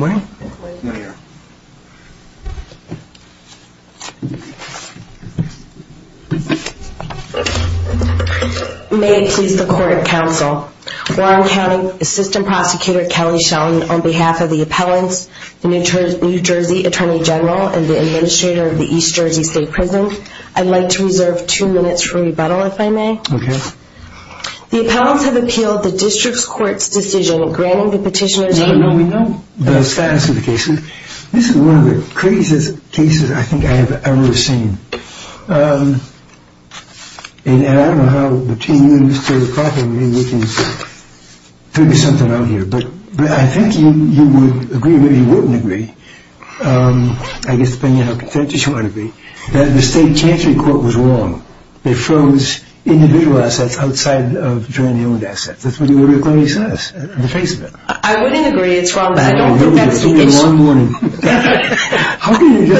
May it please the Court of Counsel, Warren County Assistant Prosecutor Kelly Schelling on behalf of the appellants, the New Jersey Attorney General and the Administrator of the East Jersey State Prison, I'd like to reserve two minutes for rebuttal if I may. The appellants have appealed the District's Court's decision granting the petitioner the status of the case. This is one of the craziest cases I think I've ever seen and I don't know how between you and Mr. McCarthy we can figure something out here but I think you would agree, maybe you wouldn't agree, I guess depending on how contentious you want to be, that the State of New Jersey is, I don't think that's the issue. But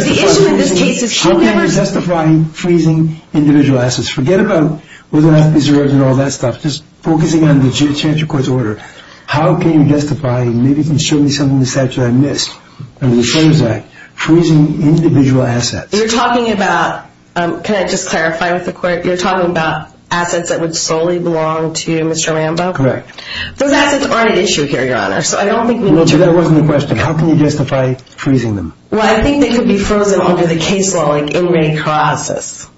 the issue in this case is how can you justify freezing individual assets, forget about whether they have to be reserved and all that stuff, just focusing on the Chancellor Court's order, how can you justify, maybe you can show me something in the statute I missed under the Fairness Act, freezing individual assets. You're talking about, can I just clarify with the Court, you're talking about assets that would solely belong to Mr. Rambo? Correct. Those assets aren't at issue here, Your Honor, so I don't think we need to... No, but that wasn't the question. How can you justify freezing them? Well, I think they could be frozen under the case law like inmate process.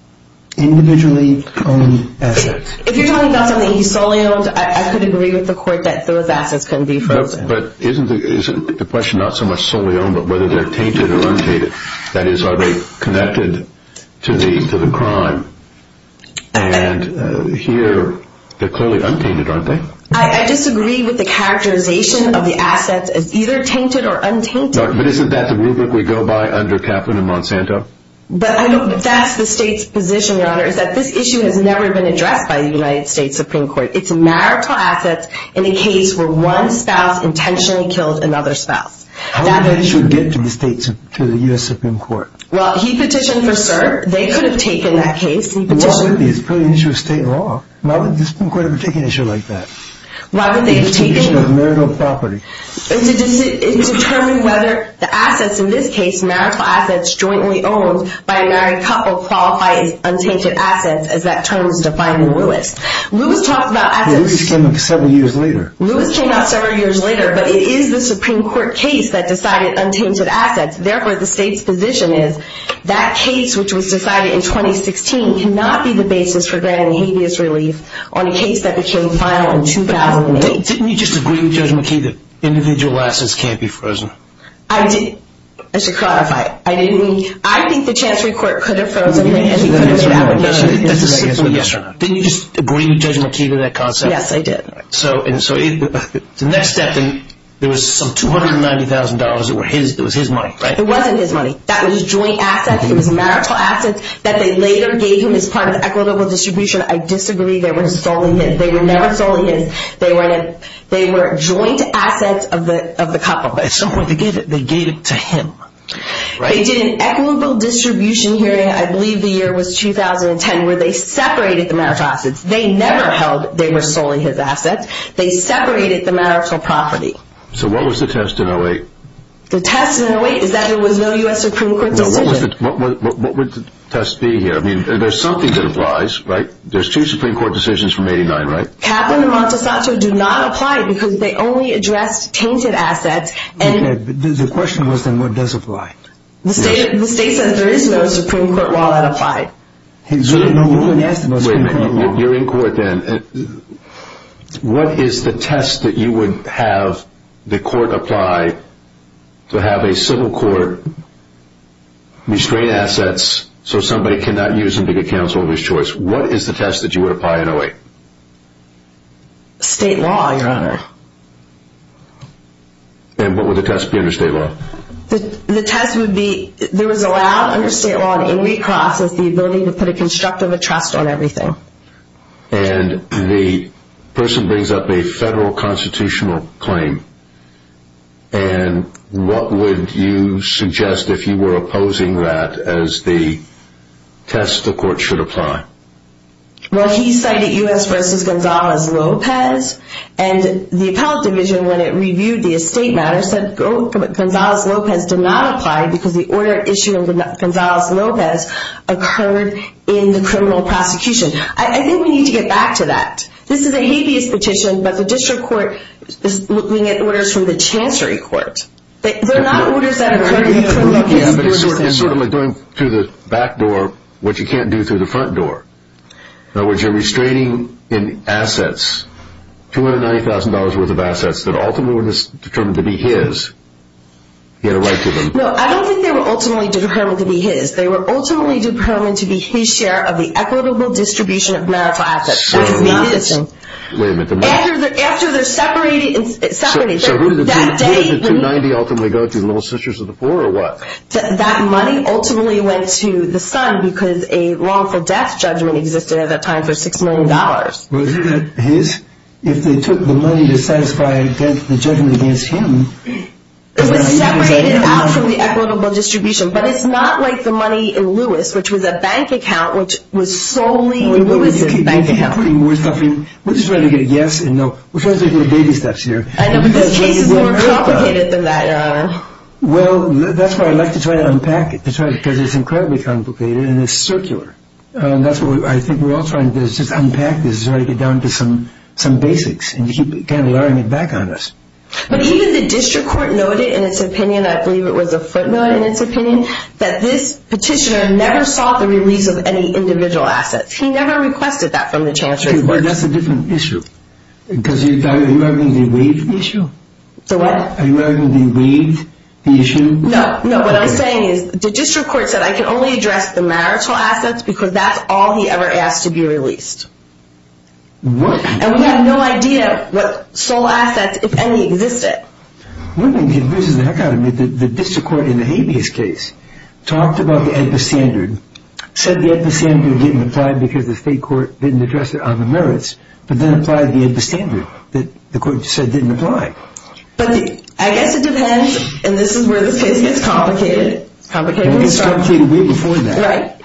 Individually owned assets. If you're talking about something he solely owned, I could agree with the Court that those assets can be frozen. But isn't the question not so much solely owned but whether they're tainted or untainted, that is, are they connected to the crime? And here, they're clearly untainted, aren't they? I disagree with the characterization of the assets as either tainted or untainted. But isn't that the rubric we go by under Kaplan and Monsanto? But that's the state's position, Your Honor, is that this issue has never been addressed by the United States Supreme Court. It's marital assets in a case where one spouse intentionally killed another spouse. How did that issue get to the U.S. Supreme Court? Well, he petitioned for cert. They could have taken that case. Why would they? It's clearly an issue of state law. Why would the Supreme Court have taken an issue like that? Why would they have taken it? It's an issue of marital property. It determined whether the assets in this case, marital assets jointly owned by a married couple, qualify as untainted assets, as that term was defined in Lewis. Lewis talked about assets... Lewis came out several years later. Lewis came out several years later, but it is the Supreme Court case that decided untainted assets. Therefore, the state's position is that case, which was decided in 2016, cannot be the basis for granting habeas relief on a case that became final in 2008. Didn't you just agree with Judge McKee that individual assets can't be frozen? I did. I should clarify. I didn't. I think the Chancery Court could have frozen it, and he could have allowed it yesterday. That's a simple yes or no. Didn't you just agree with Judge McKee to that concept? Yes, I did. The next step, there was some $290,000 that was his money, right? It wasn't his money. That was joint assets. It was marital assets that they later gave him as part of equitable distribution. I disagree. They were never solely his. They were joint assets of the couple. At some point, they gave it to him. They did an equitable distribution hearing, I believe the year was 2010, where they separated the marital assets. They never held they were solely his assets. They separated the marital property. So what was the test in 08? The test in 08 is that there was no U.S. Supreme Court decision. What would the test be here? I mean, there's something that applies, right? There's two Supreme Court decisions from 89, right? Kaplan and Montessanto do not apply because they only addressed tainted assets. The question was, then, what does apply? The state said there is no Supreme Court while it applied. You're in court, then. What is the test that you would have the court apply to have a civil court restrain assets so somebody cannot use them to get counsel of his choice? What is the test that you would apply in 08? State law, Your Honor. And what would the test be under state law? The test would be there is allowed under state law in recross is the ability to put a constructive trust on everything. And the person brings up a federal constitutional claim. And what would you suggest if you were opposing that as the test the court should apply? Well, he cited U.S. v. Gonzales-Lopez, and the appellate division, when it reviewed the estate matter, said Gonzales-Lopez did not apply because the order issue of Gonzales-Lopez occurred in the criminal prosecution. I think we need to get back to that. This is a habeas petition, but the district court is looking at orders from the chancery court. They're not orders that occurred in criminal prosecution. It's sort of like going through the back door what you can't do through the front door. In other words, you're restraining in assets, $290,000 worth of assets that ultimately were determined to be his. He had a right to them. No, I don't think they were ultimately determined to be his. They were ultimately determined to be his share of the equitable distribution of marital assets. That does not exist. Wait a minute. After they're separated. So who did the $290,000 ultimately go to, the little sisters of the poor or what? That money ultimately went to the son because a wrongful death judgment existed at that time for $6 million. Was it his? If they took the money to satisfy the judgment against him. It was separated out from the equitable distribution. But it's not like the money in Lewis, which was a bank account, which was solely Lewis' bank account. We're just trying to get a yes and no. We're trying to take the baby steps here. I know, but this case is more complicated than that. Well, that's why I like to try to unpack it because it's incredibly complicated and it's circular. That's what I think we're all trying to do is just unpack this and break it down to some basics and keep kind of learning it back on us. But even the district court noted in its opinion, I believe it was a footnote in its opinion, that this petitioner never sought the release of any individual assets. He never requested that from the chancellor. That's a different issue. Are you arguing the wage issue? The what? Are you arguing the wage issue? No, no. What I'm saying is the district court said, I can only address the marital assets because that's all he ever asked to be released. What? And we have no idea what sole assets, if any, existed. One thing that confuses the heck out of me is the district court in the habeas case talked about the AEDPA standard, said the AEDPA standard didn't apply because the state court didn't address it on the merits, but then applied the AEDPA standard that the court said didn't apply. But I guess it depends, and this is where the case gets complicated. It gets complicated way before that. Right?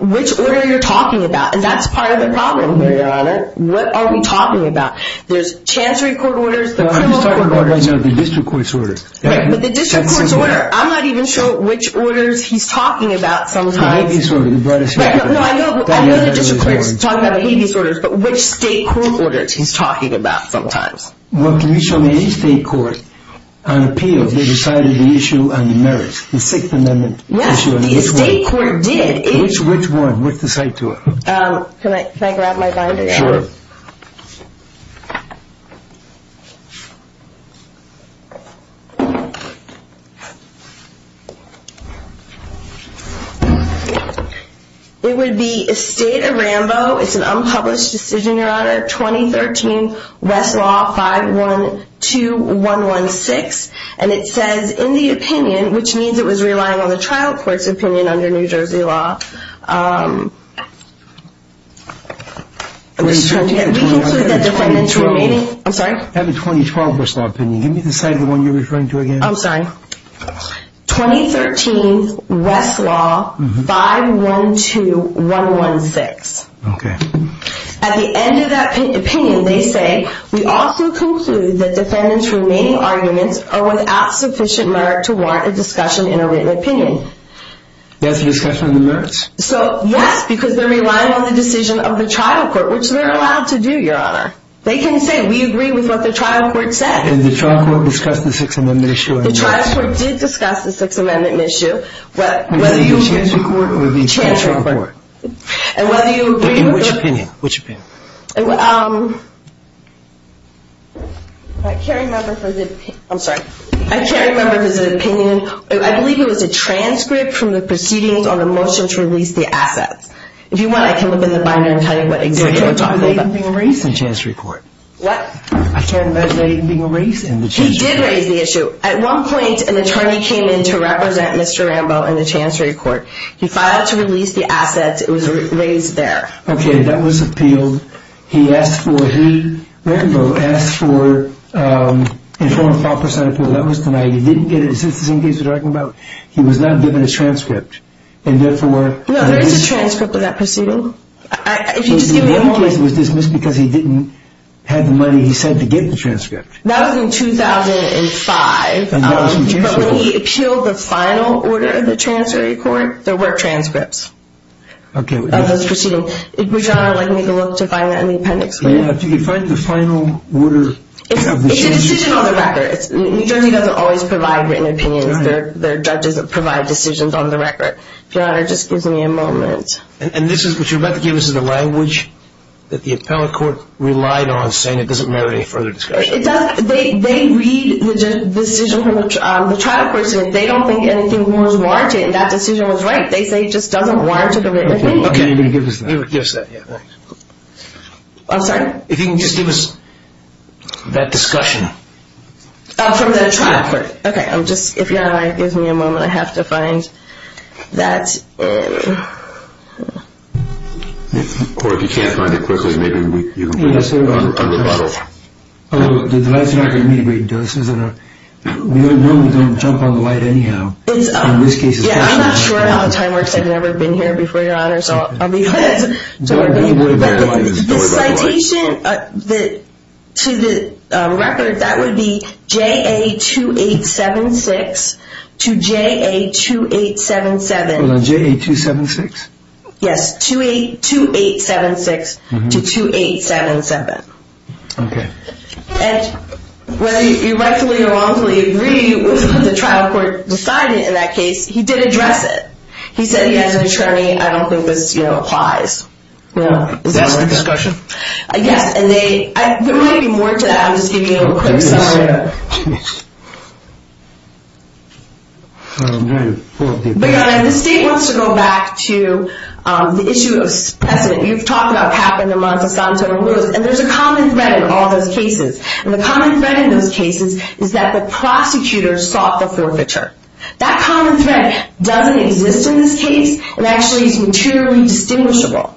Which order you're talking about. And that's part of the problem here, Your Honor. What are we talking about? There's chancery court orders, the criminal court orders. I'm just talking about the district court's order. But the district court's order. I'm not even sure which orders he's talking about sometimes. The habeas order. You brought us here. I know the district court's talking about the habeas orders, but which state court orders he's talking about sometimes. Well, can you show me any state court on appeal that decided the issue on the merits, the 6th Amendment issue? Yes, the state court did. Which one? What's the site to it? Can I grab my binder? Sure. It would be Estate of Rambo. It's an unpublished decision, Your Honor. 2013 Westlaw 512116. And it says, in the opinion, which means it was relying on the trial court's opinion under New Jersey law. I have a 2012 Westlaw opinion. Give me the site of the one you're referring to again. I'm sorry. 2013 Westlaw 512116. Okay. At the end of that opinion, they say, we also conclude that defendants' remaining arguments are without sufficient merit to warrant a discussion in a written opinion. That's a discussion on the merits? So, yes, because they're relying on the decision of the trial court, which they're allowed to do, Your Honor. They can say, we agree with what the trial court said. Did the trial court discuss the 6th Amendment issue or not? The trial court did discuss the 6th Amendment issue. In the New Jersey court or the state trial court? In which opinion? Which opinion? I'm sorry. I can't remember his opinion. I believe it was a transcript from the proceedings on the motion to release the assets. If you want, I can look in the binder and tell you what exactly we're talking about. I can't imagine that even being raised in the chancellery court. What? I can't imagine that even being raised in the chancellery court. He did raise the issue. At one point, an attorney came in to represent Mr. Rambo in the chancellery court. He filed to release the assets. It was raised there. Okay. That was appealed. He asked for, he, Rambo, asked for a 4% or 5% appeal. That was tonight. He didn't get it. Is this the same case we're talking about? He was not given a transcript. And, therefore, No, there is a transcript of that proceeding. If you just give me a moment. The same case was dismissed because he didn't have the money he said to get the transcript. That was in 2005. That was in 2005. But when he appealed the final order of the chancellery court, there were transcripts. Okay. Of this proceeding. Would Your Honor like me to look to find that in the appendix, please? Yeah. If you could find the final order. It's a decision on the record. New Jersey doesn't always provide written opinions. Their judges provide decisions on the record. If Your Honor just gives me a moment. And this is what you're about to give us is the language that the appellate court relied on saying it doesn't merit any further discussion. It doesn't. They read the decision from the trial court, so they don't think anything more is warranted. And that decision was right. They say it just doesn't warrant a written opinion. Okay. You're going to give us that. You're going to give us that. I'm sorry? If you can just give us that discussion. From the trial court. Okay. If Your Honor gives me a moment, I have to find that. Court, if you can't find it quickly, maybe you can put it on the bottle. The last record may be doses. We don't know. We don't jump on the light anyhow. Yeah, I'm not sure how the time works. I've never been here before, Your Honor, so I'll be quick. The citation to the record, that would be JA2876 to JA2877. Hold on, JA276? Yes, 2876 to 2877. Okay. And whether you rightfully or wrongfully agree with what the trial court decided in that case, he did address it. He said he has an attorney I don't think was, you know, applies. Is that all right? Is that a discussion? Yes, and there might be more to that. I'm just giving you a quick summary. Yeah. But, Your Honor, if the state wants to go back to the issue of precedent, you've talked about Kaplan and Montesanto and Lewis, and there's a common thread in all those cases. And the common thread in those cases is that the prosecutor sought the forfeiture. That common thread doesn't exist in this case and actually is materially distinguishable.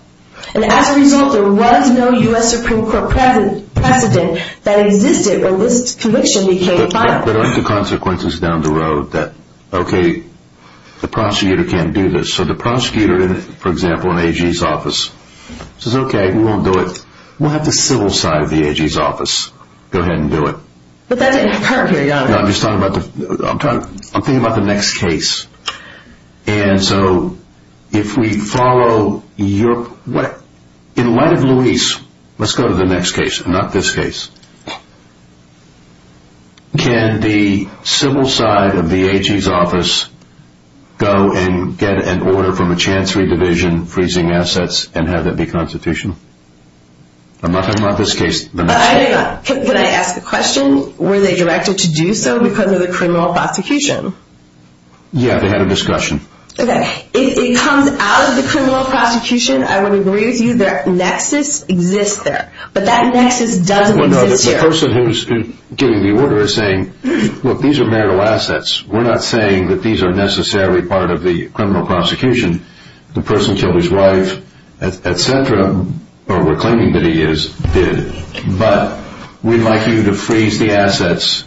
And as a result, there was no U.S. Supreme Court precedent that existed when this conviction became final. But aren't the consequences down the road that, okay, the prosecutor can't do this? So the prosecutor, for example, in AG's office says, okay, we won't do it. We'll have the civil side of the AG's office go ahead and do it. But that didn't occur here, Your Honor. No, I'm just talking about the next case. And so if we follow your – in light of Lewis, let's go to the next case and not this case. Can the civil side of the AG's office go and get an order from a chancery division, freezing assets, and have that be constitutional? I'm not talking about this case. Can I ask a question? Were they directed to do so because of the criminal prosecution? Yeah, they had a discussion. Okay. If it comes out of the criminal prosecution, I would agree with you. Their nexus exists there. But that nexus doesn't exist here. Well, no, the person who's getting the order is saying, look, these are marital assets. We're not saying that these are necessarily part of the criminal prosecution. The person killed his wife, et cetera, or we're claiming that he is, did. But we'd like you to freeze the assets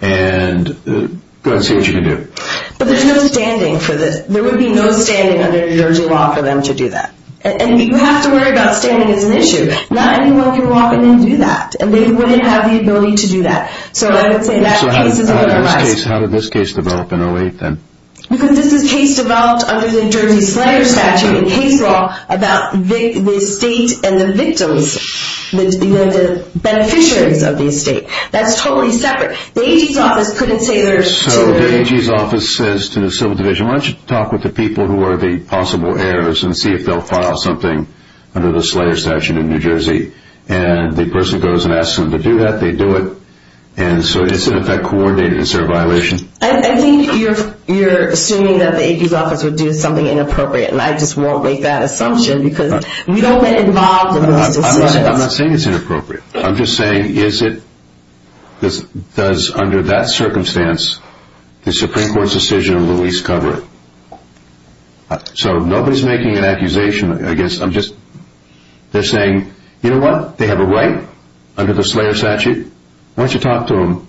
and go ahead and see what you can do. But there's no standing for this. There would be no standing under New Jersey law for them to do that. And you have to worry about standing as an issue. Not anyone can walk in and do that. And they wouldn't have the ability to do that. So I would say that case is a little less – So how did this case develop in 08, then? Because this is a case developed under the New Jersey Slayer Statute, a case law, about the state and the victims, the beneficiaries of the estate. That's totally separate. The AG's office couldn't say there's two – So the AG's office says to the Civil Division, why don't you talk with the people who are the possible heirs and see if they'll file something under the Slayer Statute in New Jersey. And the person goes and asks them to do that. They do it. And so it's, in effect, coordinated. Is there a violation? I think you're assuming that the AG's office would do something inappropriate. And I just won't make that assumption because we don't get involved in those decisions. I'm not saying it's inappropriate. I'm just saying is it – does, under that circumstance, the Supreme Court's decision at least cover it? So nobody's making an accusation. I guess I'm just – they're saying, you know what? They have a right under the Slayer Statute. Why don't you talk to them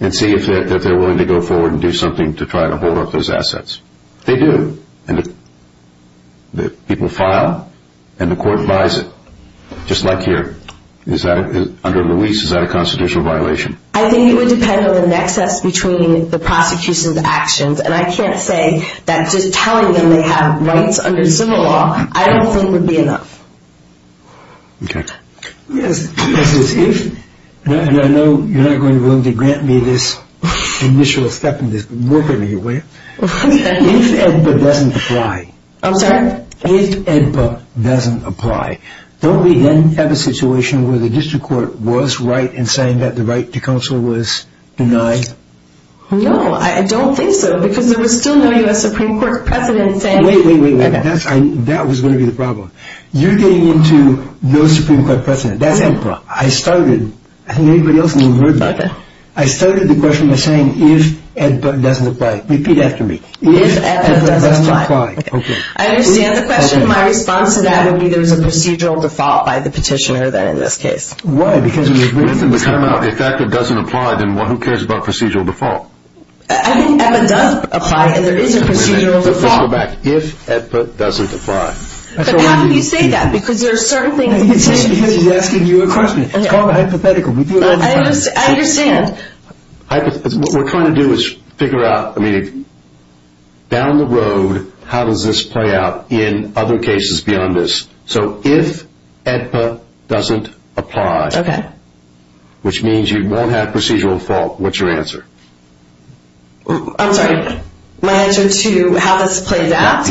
and see if they're willing to go forward and do something to try to hold up those assets. They do. And the people file, and the court buys it, just like here. Is that – under Luis, is that a constitutional violation? I think it would depend on the nexus between the prosecution's actions. And I can't say that just telling them they have rights under civil law, I don't think would be enough. Okay. Yes. And I know you're not going to willingly grant me this initial step in this, but work out of your way. If AEDPA doesn't apply. I'm sorry? If AEDPA doesn't apply, don't we then have a situation where the district court was right in saying that the right to counsel was denied? No, I don't think so because there was still no U.S. Supreme Court precedent saying – Wait, wait, wait. That was going to be the problem. You're getting into no Supreme Court precedent. That's AEDPA. I started – I think everybody else has heard that. Okay. I started the question by saying if AEDPA doesn't apply. Repeat after me. If AEDPA doesn't apply. Okay. I understand the question. My response to that would be there's a procedural default by the petitioner then in this case. Why? Because of the agreement. If AEDPA doesn't apply, then who cares about procedural default? I think AEDPA does apply and there is a procedural default. Wait a minute. Let's go back. If AEDPA doesn't apply. But how can you say that? Because there are certain things – Because she's asking you a question. It's called a hypothetical. I understand. What we're trying to do is figure out, I mean, down the road, how does this play out in other cases beyond this? So if AEDPA doesn't apply. Okay. Which means you won't have procedural default. What's your answer? I'm sorry. My answer to how this plays out?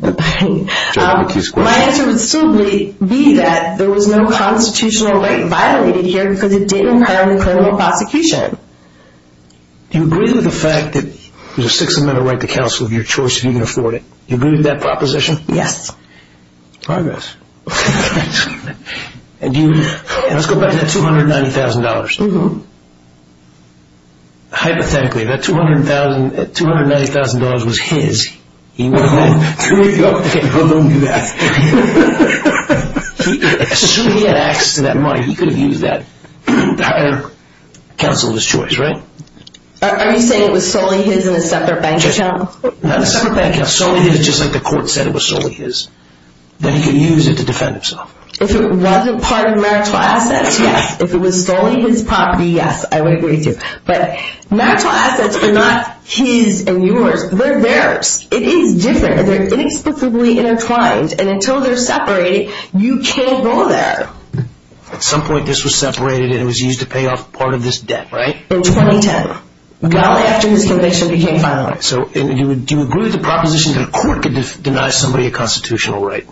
My answer would still be that there was no constitutional right violated here because it didn't require a criminal prosecution. Do you agree with the fact that there's a six-amendment right to counsel of your choice if you can afford it? Do you agree with that proposition? Yes. Progress. Okay. Let's go back to that $290,000. Hypothetically, that $290,000 was his. He went home. Don't do that. Assuming he had access to that money, he could have used that counsel of his choice, right? Are you saying it was solely his in a separate bank account? Not a separate bank account. Solely his, just like the court said it was solely his. Then he could use it to defend himself. If it wasn't part of marital assets, yes. If it was solely his property, yes, I would agree to. But marital assets are not his and yours. They're theirs. It is different. They're inexplicably intertwined. And until they're separated, you can't go there. At some point, this was separated and it was used to pay off part of this debt, right? In 2010. Not after his conviction became final. So do you agree with the proposition that a court could deny somebody a constitutional right?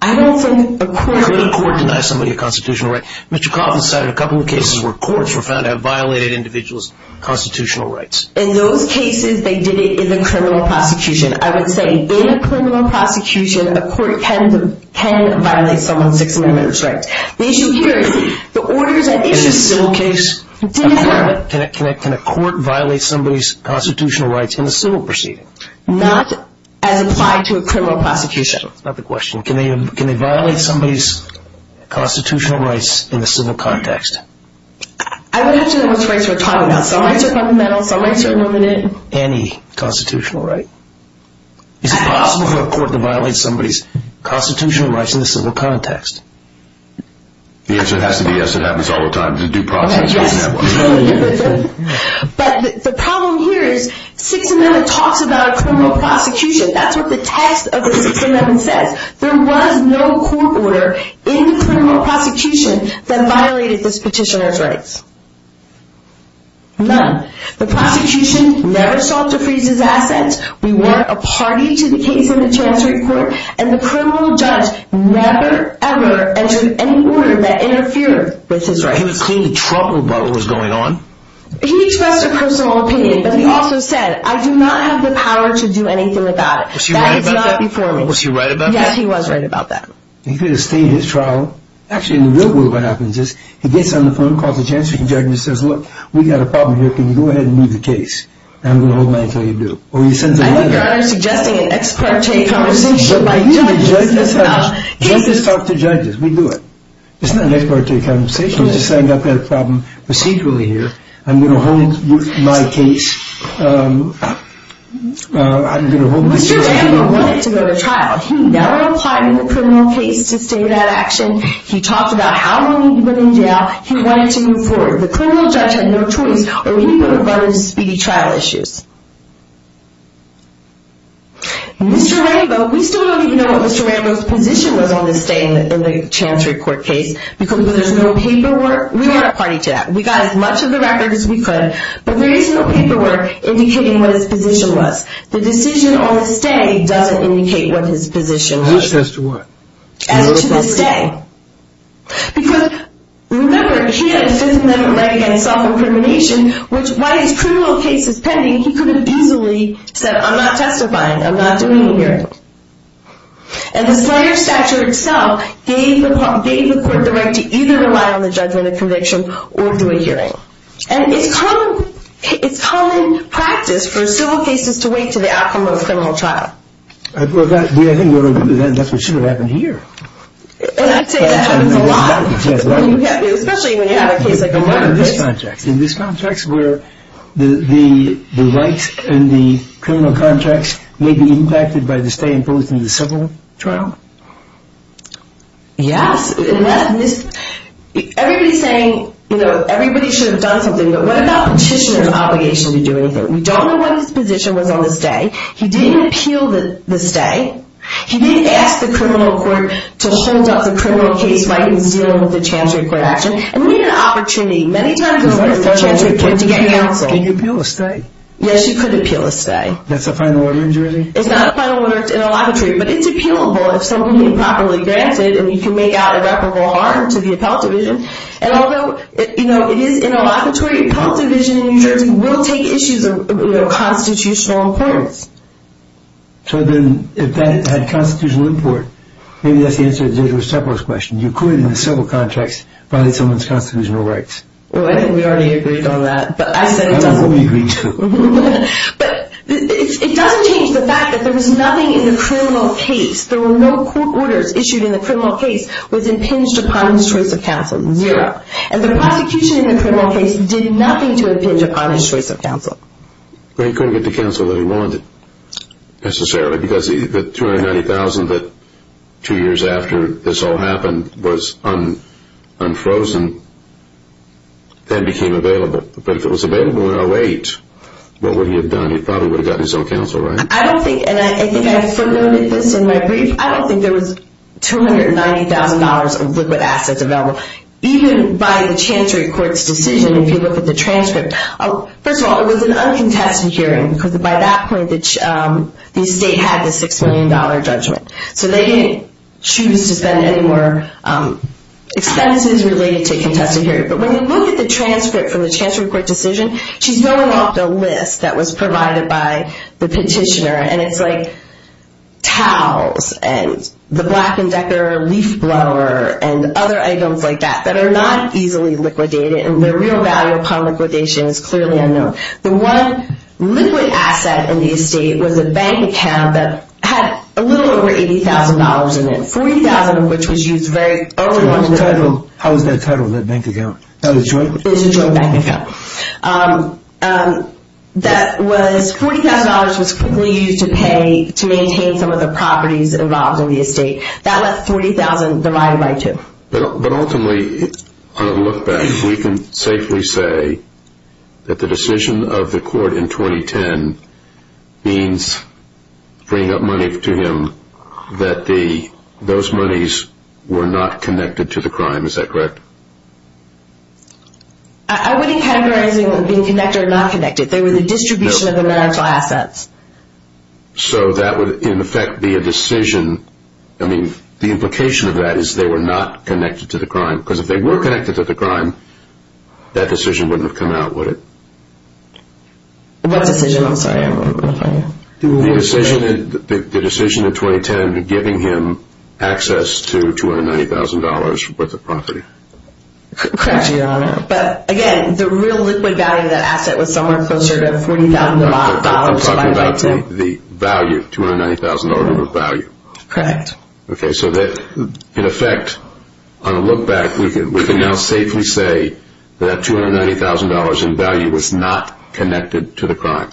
I don't think a court could. Mr. Coffin cited a couple of cases where courts were found to have violated individuals' constitutional rights. In those cases, they did it in the criminal prosecution. I would say in a criminal prosecution, a court can violate someone's six-millimeter rights. The issue here is the orders at issue still differ. Can a court violate somebody's constitutional rights in a civil proceeding? Not as applied to a criminal prosecution. That's not the question. Can they violate somebody's constitutional rights in a civil context? I would have to know which rights we're talking about. Some rights are fundamental. Some rights are limited. Any constitutional right? Is it possible for a court to violate somebody's constitutional rights in a civil context? The answer has to be yes. It happens all the time. It's a due process. But the problem here is six-millimeter talks about a criminal prosecution. That's what the text of the six-millimeter says. There was no court order in the criminal prosecution that violated this petitioner's rights. None. The prosecution never sought to freeze his assets. We weren't a party to the case in the Chancery Court. And the criminal judge never, ever entered any order that interfered with his rights. He was clean to Trump about what was going on? He expressed a personal opinion, but he also said, I do not have the power to do anything about it. Was he right about that? Yes, he was right about that. He could have stayed his trial. Actually, in the real world, what happens is he gets on the phone, calls the Chancery judge, and says, look, we've got a problem here. Can you go ahead and move the case? And I'm going to hold mine until you do. Or he sends another. I think you're suggesting an ex parte conversation by judges. Judges talk to judges. We do it. It's not an ex parte conversation. It's just saying, I've got a problem procedurally here. I'm going to hold my case. I'm going to hold my case. Mr. Rambo wanted to go to trial. He never applied in the criminal case to stay that action. He talked about how long he'd been in jail. He wanted to move forward. The criminal judge had no choice, or he would have run into speedy trial issues. Mr. Rambo, we still don't even know what Mr. Rambo's position was on this day in the Chancery court case, because there's no paperwork. We weren't a party to that. We got as much of the records as we could. But there is no paperwork indicating what his position was. The decision on stay doesn't indicate what his position was. As to what? As to the stay. Because, remember, he had the Fifth Amendment right against self-incrimination, which, while his criminal case is pending, he could have easily said, I'm not testifying. I'm not doing a hearing. And the slander statute itself gave the court the right to either rely on the judgment of conviction or do a hearing. And it's common practice for civil cases to wait to the outcome of a criminal trial. I think that's what should have happened here. I'd say that happens a lot, especially when you have a case like this. In this context, where the rights and the criminal contracts may be impacted by the stay imposed in the civil trial? Yes. Everybody's saying, you know, everybody should have done something. But what about petitioner's obligation to do anything? We don't know what his position was on the stay. He didn't appeal the stay. He didn't ask the criminal court to hold up the criminal case while he was dealing with the Chancery Court action. And we need an opportunity many times over at the Chancery Court to get counsel. Can you appeal a stay? Yes, you could appeal a stay. That's a final order in jury? It's not a final order. It's interlocutory. But it's appealable if someone is properly granted and you can make out irreparable harm to the appellate division. And although, you know, it is interlocutory, appellate division in New Jersey will take issues of constitutional importance. So then if that had constitutional import, maybe that's the answer to Deirdre Seppler's question. You could, in the civil contracts, violate someone's constitutional rights. Well, I think we already agreed on that. But I said it doesn't. Well, we agreed, too. But it doesn't change the fact that there was nothing in the criminal case. There were no court orders issued in the criminal case was impinged upon his choice of counsel. Zero. And the prosecution in the criminal case did nothing to impinge upon his choice of counsel. Well, he couldn't get the counsel that he wanted necessarily because the $290,000 that two years after this all happened was unfrozen then became available. But if it was available in 08, what would he have done? He probably would have gotten his own counsel, right? I don't think, and I think I footnoted this in my brief, I don't think there was $290,000 of liquid assets available. Even by the Chancery Court's decision, if you look at the transcript, first of all, it was an uncontested hearing because by that point the state had the $6 million judgment. So they didn't choose to spend any more expenses related to a contested hearing. But when you look at the transcript from the Chancery Court decision, she's going off the list that was provided by the petitioner. And it's like towels and the Black & Decker leaf blower and other items like that that are not easily liquidated. And the real value upon liquidation is clearly unknown. The one liquid asset in the estate was a bank account that had a little over $80,000 in it, $40,000 of which was used very early on. How is that titled, that bank account? It's a joint bank account. That was, $40,000 was quickly used to pay to maintain some of the properties involved in the estate. That left $40,000 divided by two. But ultimately, on a look back, we can safely say that the decision of the court in 2010 means bringing up money to him that those monies were not connected to the crime. Is that correct? I wouldn't categorize them as being connected or not connected. They were the distribution of the marital assets. So that would, in effect, be a decision. I mean, the implication of that is they were not connected to the crime. Because if they were connected to the crime, that decision wouldn't have come out, would it? What decision? I'm sorry. The decision in 2010 to giving him access to $290,000 worth of property. Correct, Your Honor. But, again, the real liquid value of that asset was somewhere closer to $40,000. I'm talking about the value, $290,000 worth of value. Correct. Okay, so that, in effect, on a look back, we can now safely say that $290,000 in value was not connected to the crime.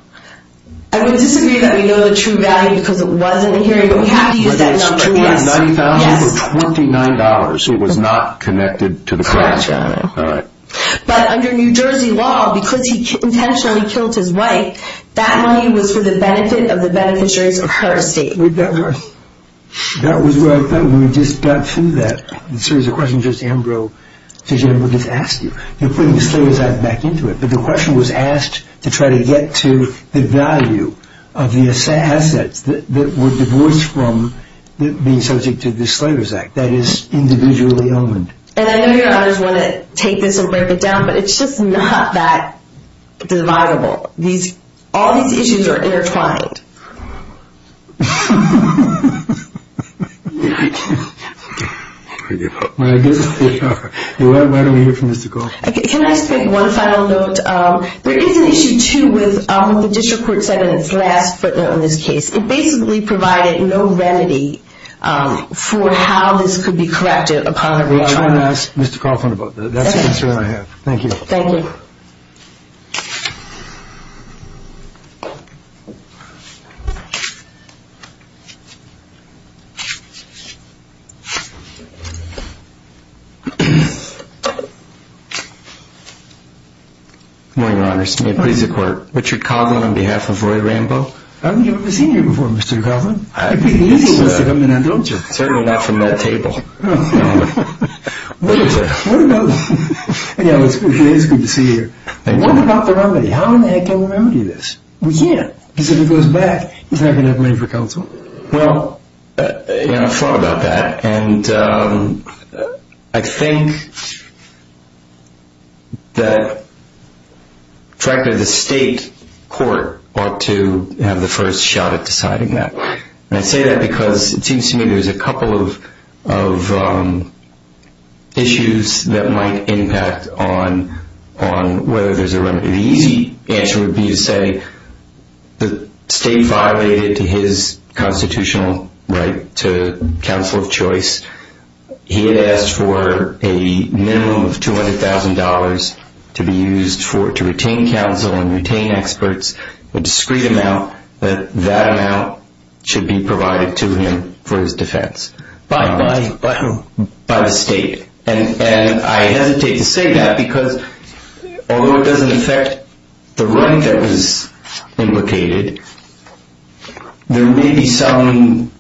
I would disagree that we know the true value because it was in the hearing, but we have to use that number. $290,000 or $29, it was not connected to the crime. But under New Jersey law, because he intentionally killed his wife, that money was for the benefit of the beneficiaries of her estate. That was what I thought when we just got through that. The question is, did Ambrose just ask you? You're putting the Slavers Act back into it. But the question was asked to try to get to the value of the assets that were divorced from being subject to the Slavers Act. That is individually owned. And I know you and others want to take this and break it down, but it's just not that dividable. All these issues are intertwined. I give up. Why don't we hear from Mr. Coughlin? Can I just make one final note? There is an issue, too, with what the district court said in its last footnote on this case. It basically provided no remedy for how this could be corrected upon retrial. I'm going to ask Mr. Coughlin about that. That's the concern I have. Thank you. Thank you. Good morning, Your Honors. May it please the Court. Richard Coughlin on behalf of Roy Rambo. I don't think I've ever seen you before, Mr. Coughlin. I think you're used to coming in, don't you? Certainly not from that table. What about the remedy? How in the heck can we remedy this? We can't because if it goes back, it's not going to have money for counsel. Well, I've thought about that. And I think that, frankly, the state court ought to have the first shot at deciding that. And I say that because it seems to me there's a couple of issues that might impact on whether there's a remedy. The easy answer would be to say the state violated his constitutional right to counsel of choice. He had asked for a minimum of $200,000 to be used to retain counsel and retain experts, a discreet amount. That amount should be provided to him for his defense by the state. And I hesitate to say that because although it doesn't affect the right that was implicated, there may be some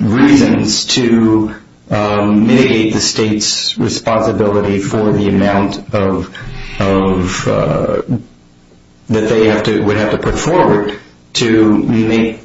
reasons to mitigate the state's responsibility for the amount that they would have to put forward to make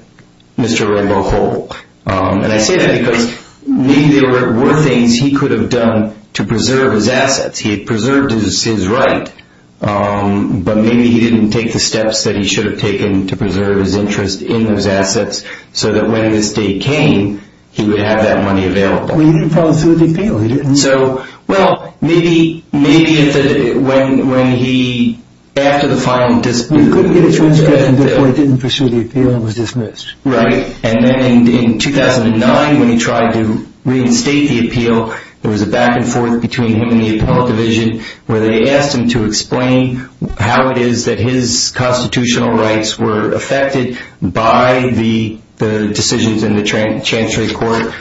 Mr. Rambo whole. And I say that because maybe there were things he could have done to preserve his assets. He had preserved his right, but maybe he didn't take the steps that he should have taken to preserve his interest in those assets so that when his day came, he would have that money available. Well, he didn't follow through with the appeal. He didn't. So, well, maybe when he, after the final dispute... He couldn't get a transcript and therefore he didn't pursue the appeal and was dismissed. Right. And then in 2009, when he tried to reinstate the appeal, there was a back and forth between him and the appellate division where they asked him to explain how it is that his constitutional rights were affected by the decisions in the Chancery Court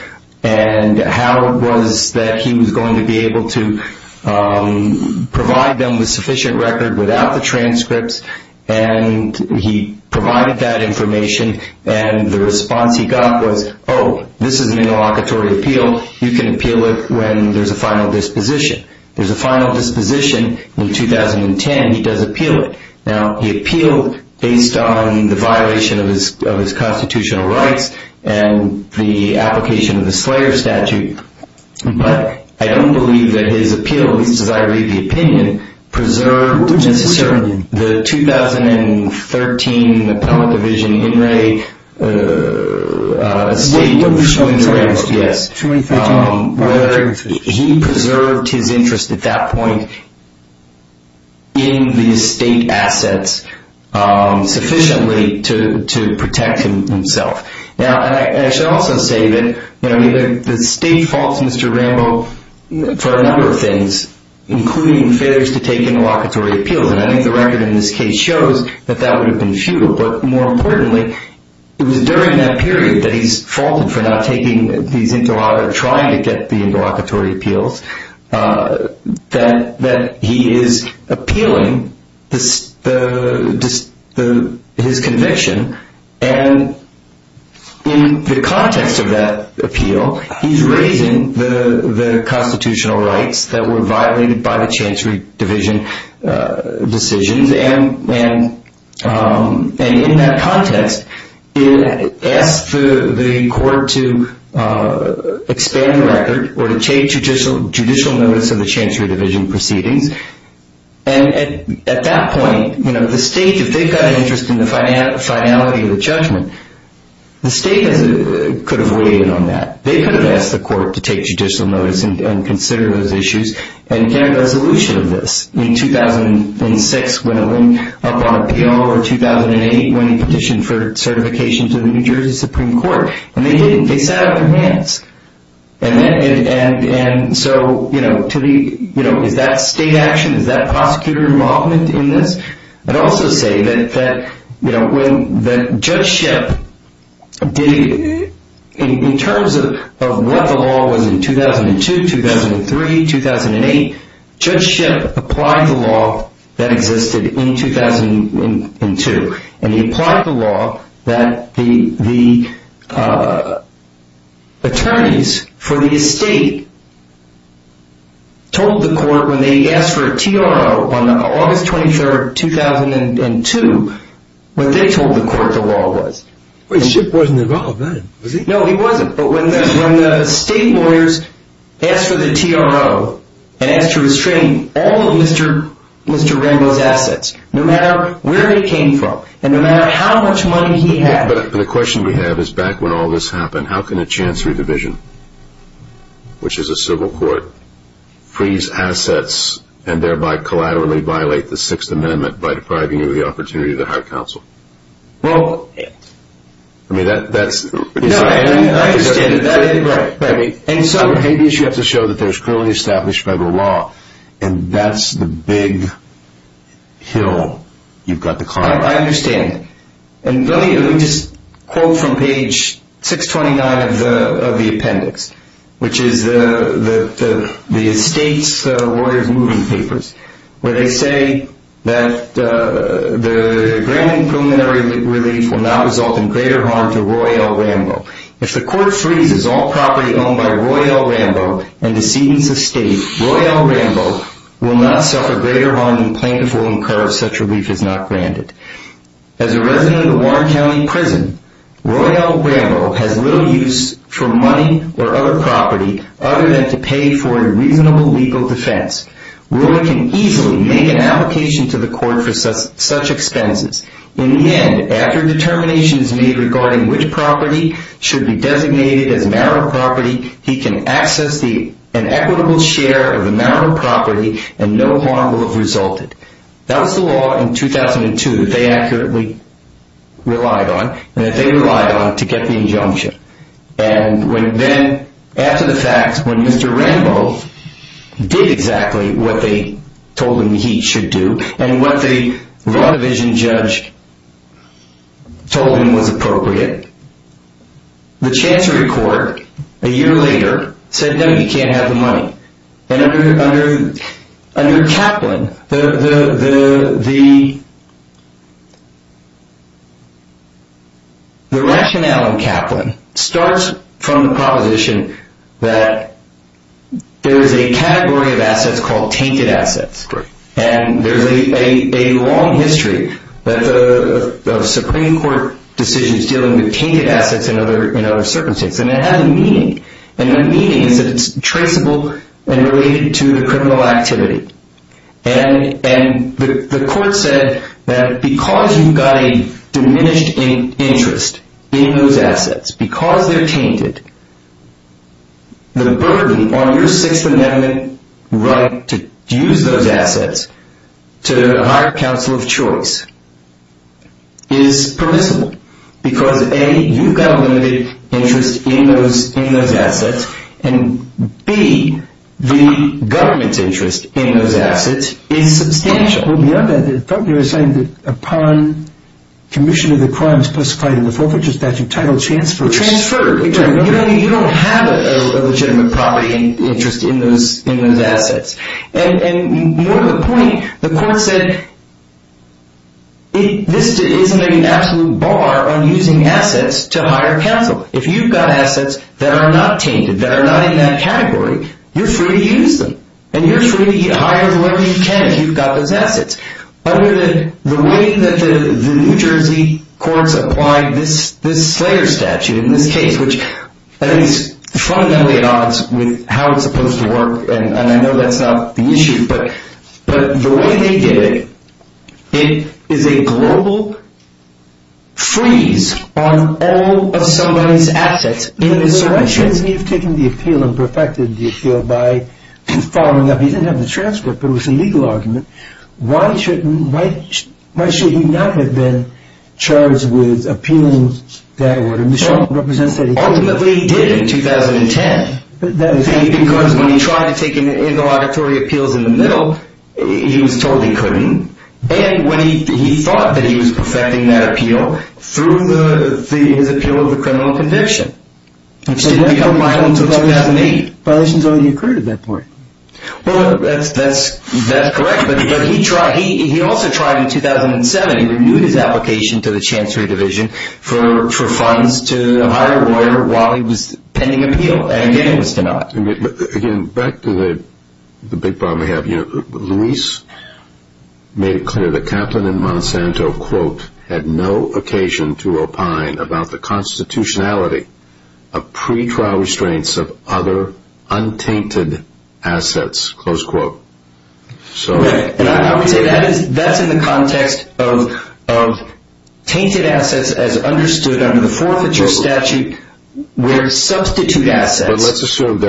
and how it was that he was going to be able to provide them with sufficient record without the transcripts. And he provided that information and the response he got was, oh, this is an interlocutory appeal. You can appeal it when there's a final disposition. There's a final disposition in 2010. He does appeal it. Now, he appealed based on the violation of his constitutional rights and the application of the Slayer Statute. But I don't believe that his appeal, at least as I read the opinion, preserved the 2013 appellate division, In Re State, where he preserved his interest at that point in the state assets sufficiently to protect himself. Now, I should also say that the state faults Mr. Rambo for a number of things, including failures to take interlocutory appeals. And I think the record in this case shows that that would have been futile. But more importantly, it was during that period that he's faulted for not taking these interlocutory, or trying to get the interlocutory appeals, that he is appealing his conviction. And in the context of that appeal, he's raising the constitutional rights that were violated by the Chancery Division decisions. And in that context, he asked the court to expand the record or to take judicial notice of the Chancery Division proceedings. And at that point, the state, if they've got an interest in the finality of the judgment, the state could have weighed in on that. They could have asked the court to take judicial notice and consider those issues and get a resolution of this. In 2006, when it went up on appeal, or 2008, when he petitioned for certification to the New Jersey Supreme Court. And they didn't. They sat up their hands. And so is that state action? Is that prosecutor involvement in this? I'd also say that when Judge Shipp, in terms of what the law was in 2002, 2003, 2008, Judge Shipp applied the law that existed in 2002. And he applied the law that the attorneys for the estate told the court when they asked for a TRO on August 23, 2002, what they told the court the law was. Wait, Shipp wasn't involved then, was he? No, he wasn't. But when the state lawyers asked for the TRO and asked to restrain all of Mr. Rambo's assets, no matter where he came from and no matter how much money he had. But the question we have is, back when all this happened, how can a Chancery Division, which is a civil court, freeze assets and thereby collaterally violate the Sixth Amendment by depriving you of the opportunity to hire counsel? Well... I mean, that's... No, I understand that. I mean, for habeas you have to show that there's clearly established federal law. And that's the big hill you've got to climb. I understand. And let me just quote from page 629 of the appendix, which is the estate's lawyers' moving papers, where they say that the granted preliminary relief will not result in greater harm to Roy L. Rambo. If the court freezes all property owned by Roy L. Rambo and decedents of state, Roy L. Rambo will not suffer greater harm than plaintiffs will incur if such relief is not granted. As a resident of Warren County Prison, Roy L. Rambo has little use for money or other property other than to pay for a reasonable legal defense. Roy can easily make an application to the court for such expenses. In the end, after a determination is made regarding which property should be designated as marital property, he can access an equitable share of the marital property and no harm will have resulted. That was the law in 2002 that they accurately relied on and that they relied on to get the injunction. And when then, after the fact, when Mr. Rambo did exactly what they told him he should do, and what the law division judge told him was appropriate, the Chancery Court, a year later, said no, you can't have the money. And under Kaplan, the rationale in Kaplan starts from the proposition that there is a category of assets called tainted assets. And there's a long history of Supreme Court decisions dealing with tainted assets in other circumstances. And it has a meaning. And the meaning is that it's traceable and related to the criminal activity. And the court said that because you've got a diminished interest in those assets, because they're tainted, the burden on your Sixth Amendment right to use those assets to hire counsel of choice is permissible. Because, A, you've got a limited interest in those assets. And, B, the government's interest in those assets is substantial. Well, beyond that, I thought you were saying that upon commission of the crimes specified in the Forfeiture Statute title transfer. Transferred. You don't have a legitimate property interest in those assets. And more to the point, the court said this isn't an absolute bar on using assets to hire counsel. If you've got assets that are not tainted, that are not in that category, you're free to use them. And you're free to hire whoever you can if you've got those assets. The way that the New Jersey courts applied this Slayer statute in this case, which at least fundamentally odds with how it's supposed to work, and I know that's not the issue, but the way they did it, it is a global freeze on all of somebody's assets. Why should he have taken the appeal and perfected the appeal by following up? He didn't have the transfer, but it was a legal argument. Why should he not have been charged with appealing that order? Ultimately, he did in 2010. Because when he tried to take an interlocutory appeals in the middle, he was told he couldn't. And he thought that he was perfecting that appeal through his appeal of the criminal conviction, which didn't become violent until 2008. Violations already occurred at that point. Well, that's correct. But he also tried in 2007. He renewed his application to the Chancery Division for funds to hire a lawyer while he was pending appeal. And again, it was denied. Again, back to the big problem we have. You know, Luis made it clear that Kaplan and Monsanto, quote, had no occasion to opine about the constitutionality of pretrial restraints of other untainted assets, close quote. Okay. And I would say that's in the context of tainted assets as understood under the forfeiture statute where substitute assets. But let's assume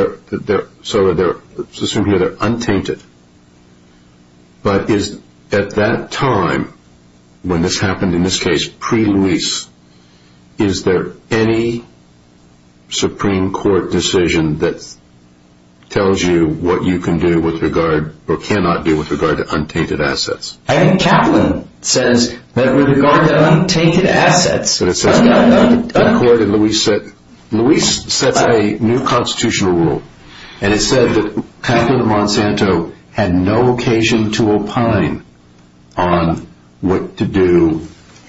here they're untainted. But at that time when this happened, in this case pre-Luis, is there any Supreme Court decision that tells you what you can do with regard or cannot do with regard to untainted assets? I think Kaplan says that with regard to untainted assets. Luis sets a new constitutional rule. And it said that Kaplan and Monsanto had no occasion to opine on what to do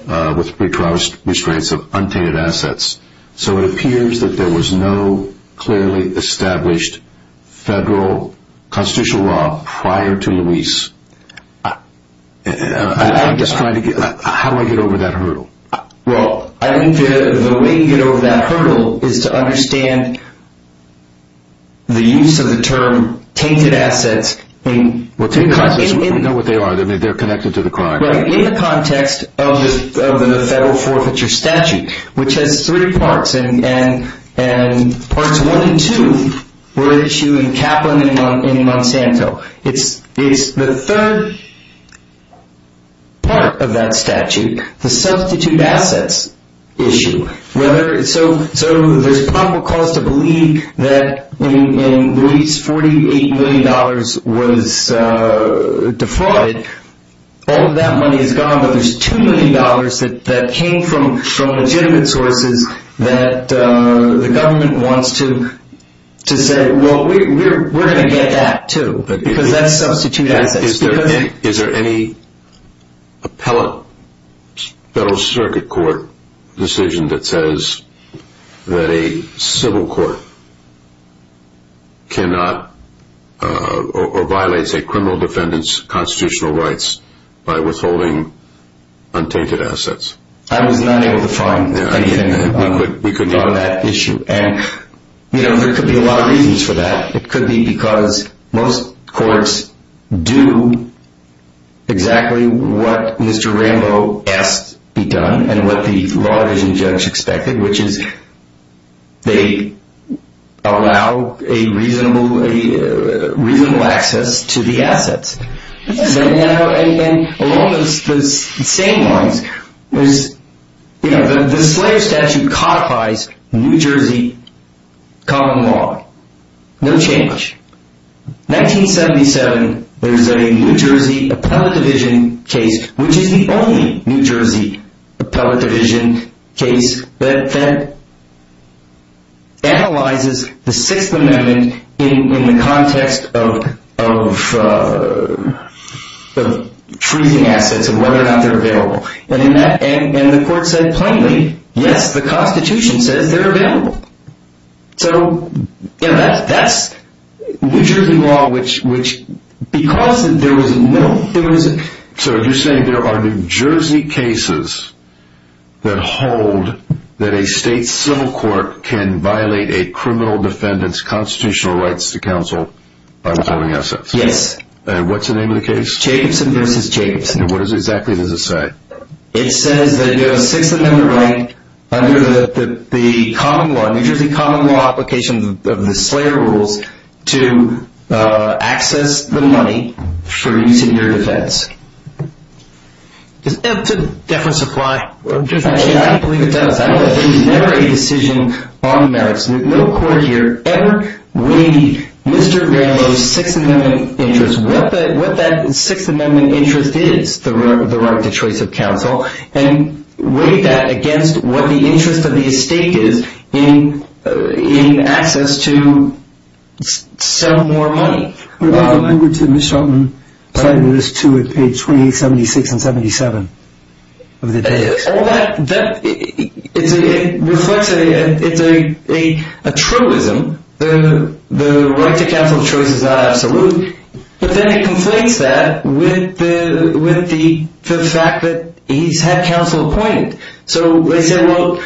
with pretrial restraints of untainted assets. So it appears that there was no clearly established federal constitutional law prior to Luis. I'm just trying to get – how do I get over that hurdle? Well, I think the way to get over that hurdle is to understand the use of the term tainted assets. Well, tainted assets, we know what they are. They're connected to the crime. Right. In the context of the federal forfeiture statute, which has three parts, and parts one and two were at issue in Kaplan and Monsanto. It's the third part of that statute, the substitute assets issue. So there's probable cause to believe that when Luis' $48 million was defrauded, all of that money is gone. But there's $2 million that came from legitimate sources that the government wants to say, well, we're going to get that too. Because that's substitute assets. Is there any appellate federal circuit court decision that says that a civil court cannot or violates a criminal defendant's constitutional rights by withholding untainted assets? I was not able to find anything on that issue. And there could be a lot of reasons for that. It could be because most courts do exactly what Mr. Rambo asked be done and what the law division judge expected, which is they allow a reasonable access to the assets. And along those same lines, the slave statute codifies New Jersey common law. No change. 1977, there's a New Jersey appellate division case, which is the only New Jersey appellate division case that analyzes the Sixth Amendment in the context of freezing assets and whether or not they're available. And the court said plainly, yes, the Constitution says they're available. So that's New Jersey law, which because there was no... So you're saying there are New Jersey cases that hold that a state civil court can violate a criminal defendant's constitutional rights to counsel by withholding assets. Yes. And what's the name of the case? Jacobson v. Jacobson. And what exactly does it say? It says that you have a Sixth Amendment right under the common law, New Jersey common law application of the slave rules, to access the money for use in your defense. Does that to deference apply? I don't believe it does. There's never a decision on merits. No court here ever weighed Mr. Granlo's Sixth Amendment interest, what that Sixth Amendment interest is, the right to choice of counsel, and weighed that against what the interest of the estate is in access to sell more money. It's a truism. The right to counsel of choice is not absolute. But then it conflates that with the fact that he's had counsel appointed. So they said, well,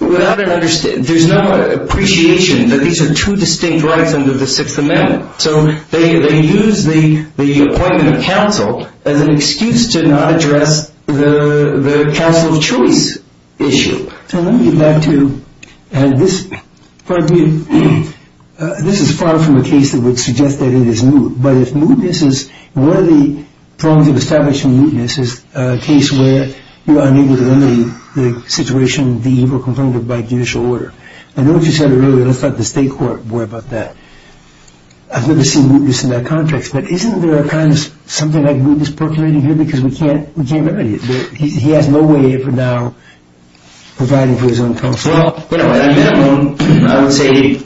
there's no appreciation that these are two distinct rights under the Sixth Amendment. So they use the appointment of counsel as an excuse to not address the counsel of choice issue. So let me get back to, and this is far from a case that would suggest that it is moot. But if mootness is, one of the problems of establishing mootness is a case where you are unable to remedy the situation, the evil confronted by judicial order. I know what you said earlier, let's let the state court worry about that. I've never seen mootness in that context. But isn't there a kind of something like mootness percolating here because we can't remedy it? He has no way of now providing for his own counsel. Well, at a minimum, I would say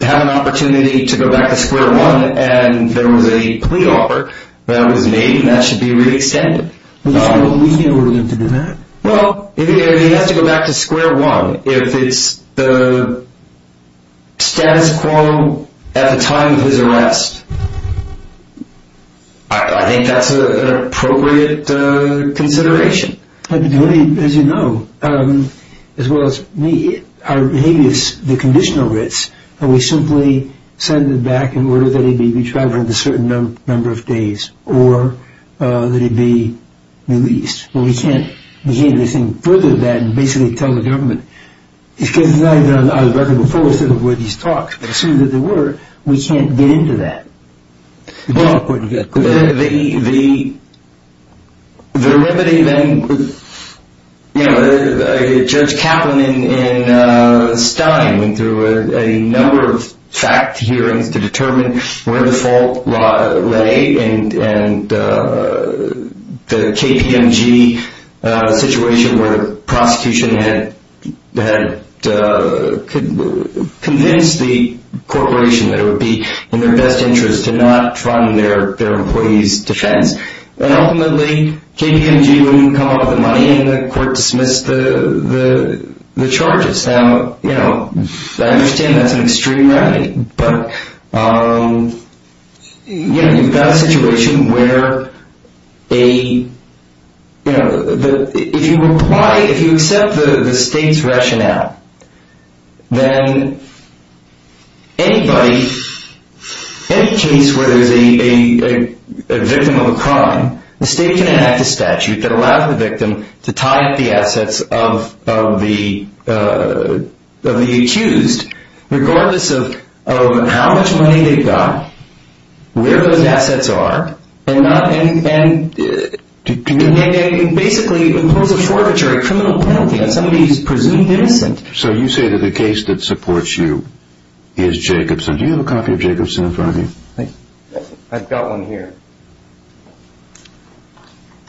have an opportunity to go back to square one. And there was a plea offer that was made. That should be re-extended. We knew we were going to do that. Well, he has to go back to square one. If it's the status quo at the time of his arrest, I think that's an appropriate consideration. As you know, as well as me, our behavior is the conditional risk. We simply send him back in order that he be retrieved within a certain number of days or that he be released. Well, we can't do anything further than basically tell the government. It's because it's not even on the record before where these talks were. As soon as they were, we can't get into that. The remedy then, you know, Judge Kaplan and Stein went through a number of fact hearings to determine where the fault lay and the KPMG situation where the prosecution had convinced the corporation that it would be in their best interest to not fund their employees' defense. And ultimately, KPMG wouldn't come up with the money and the court dismissed the charges. Now, you know, I understand that's an extreme remedy. But, you know, you've got a situation where a, you know, if you apply, if you accept the state's rationale, then anybody, any case where there's a victim of a crime, the state can enact a statute that allows the victim to tie up the assets of the accused regardless of how much money they've got, where those assets are, and basically impose a forfeiture, a criminal penalty on somebody who's presumed innocent. So you say that the case that supports you is Jacobson. Do you have a copy of Jacobson in front of you? I've got one here.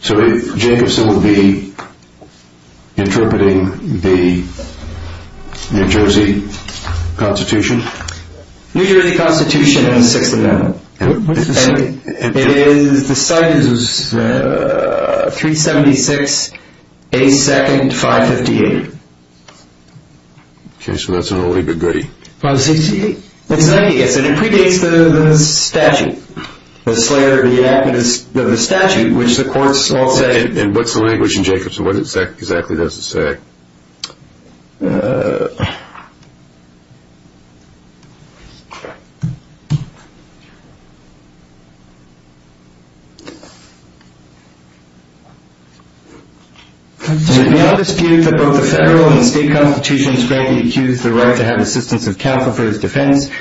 So Jacobson will be interpreting the New Jersey Constitution? New Jersey Constitution and the Sixth Amendment. And what's the size? It is, the size is 376 A2nd 558. Okay, so that's an early goody. Exactly, yes, and it predates the statute, the slayer, the enactment of the statute, which the courts all say. And what's the language in Jacobson? What exactly does it say? Okay. It is not disputed that both the federal and state constitutions grant the accused the right to have assistance of counsel for his defense.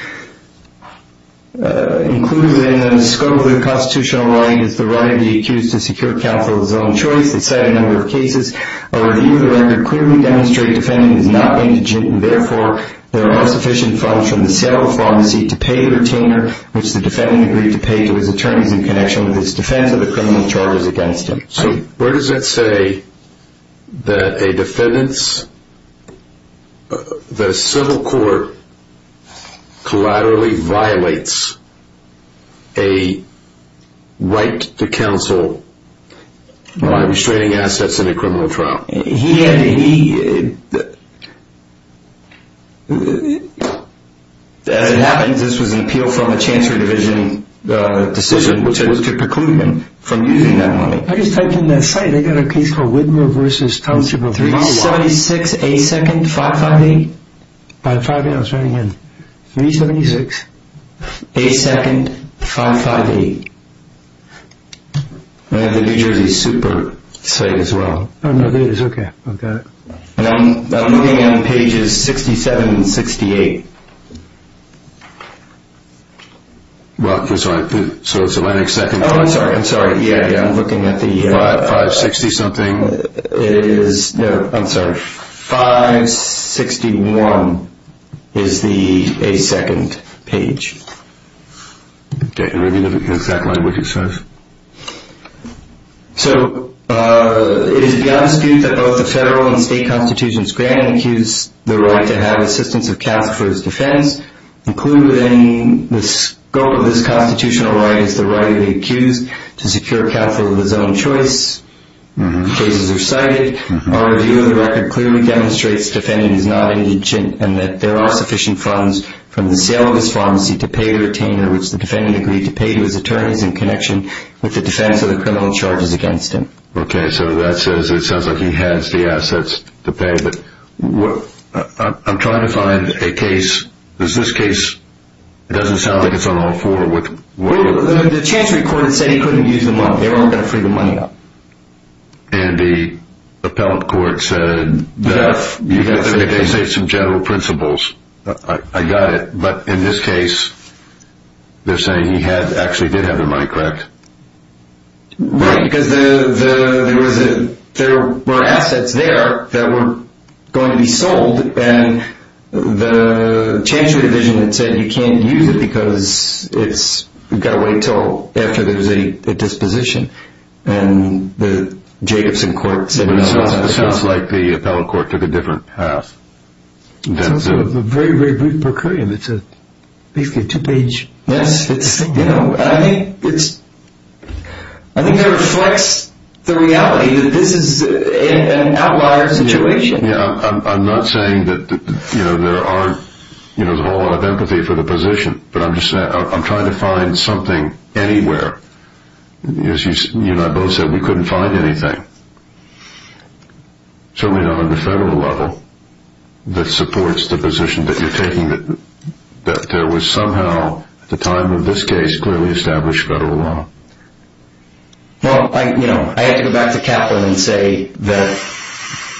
Included in the scope of the constitutional right is the right of the accused to secure counsel of his own choice. A review of the record clearly demonstrates the defendant is not going to judge, and therefore there are insufficient funds from the sale of the farm to pay the retainer, which the defendant agreed to pay to his attorneys in connection with his defense of the criminal charges against him. So where does that say that a defendant's, the civil court, collaterally violates a right to counsel by restraining assets in a criminal trial? He, as it happens, this was an appeal from a chancellor division decision, which was to preclude him from using that money. I just typed in that site. I got a case called Widmer v. Councilman 376A2nd558. By 5A, I was writing in. 376A2nd558. I have the New Jersey Super site as well. Oh, no, there it is. Okay. I've got it. I'm looking at pages 67 and 68. Well, I'm sorry. So it's the next second. Oh, I'm sorry. I'm sorry. Yeah, yeah. I'm looking at the 560 something. It is, no, I'm sorry. 561 is the A2nd page. Okay. Let me look at the exact language it says. So it is beyond dispute that both the federal and state constitutions grant and accuse the right to have assistance of counsel for his defense, including the scope of this constitutional right is the right to be accused to secure counsel of his own choice. The cases are cited. Our review of the record clearly demonstrates the defendant is not indigent and that there are sufficient funds from the sale of his pharmacy to pay the retainer, which the defendant agreed to pay to his attorneys in connection with the defense of the criminal charges against him. Okay. So that says it sounds like he has the assets to pay. But I'm trying to find a case. Does this case, it doesn't sound like it's on all four. The chancery court has said he couldn't use them all. They weren't going to free the money up. And the appellate court said that if they say some general principles, I got it. But in this case, they're saying he actually did have the money, correct? Right, because there were assets there that were going to be sold, and the chancery division had said you can't use it because you've got to wait until after there's a disposition. And the Jacobson court said no. It sounds like the appellate court took a different path. It's also a very, very brief procuration. It's basically a two-page mess. I think it reflects the reality that this is an outlier situation. I'm not saying that there aren't a whole lot of empathy for the position, but I'm trying to find something anywhere. As you and I both said, we couldn't find anything, certainly not on the federal level, that supports the position that you're taking, that there was somehow at the time of this case clearly established federal law. Well, I have to go back to Kaplan and say that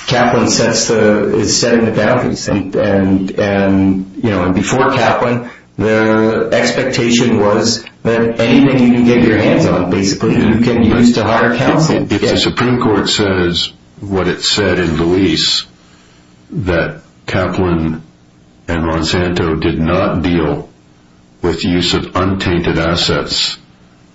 Kaplan is setting the boundaries. Before Kaplan, their expectation was that anything you can get your hands on, basically, you can use to hire counsel. If the Supreme Court says what it said in Luis, that Kaplan and Monsanto did not deal with the use of untainted assets,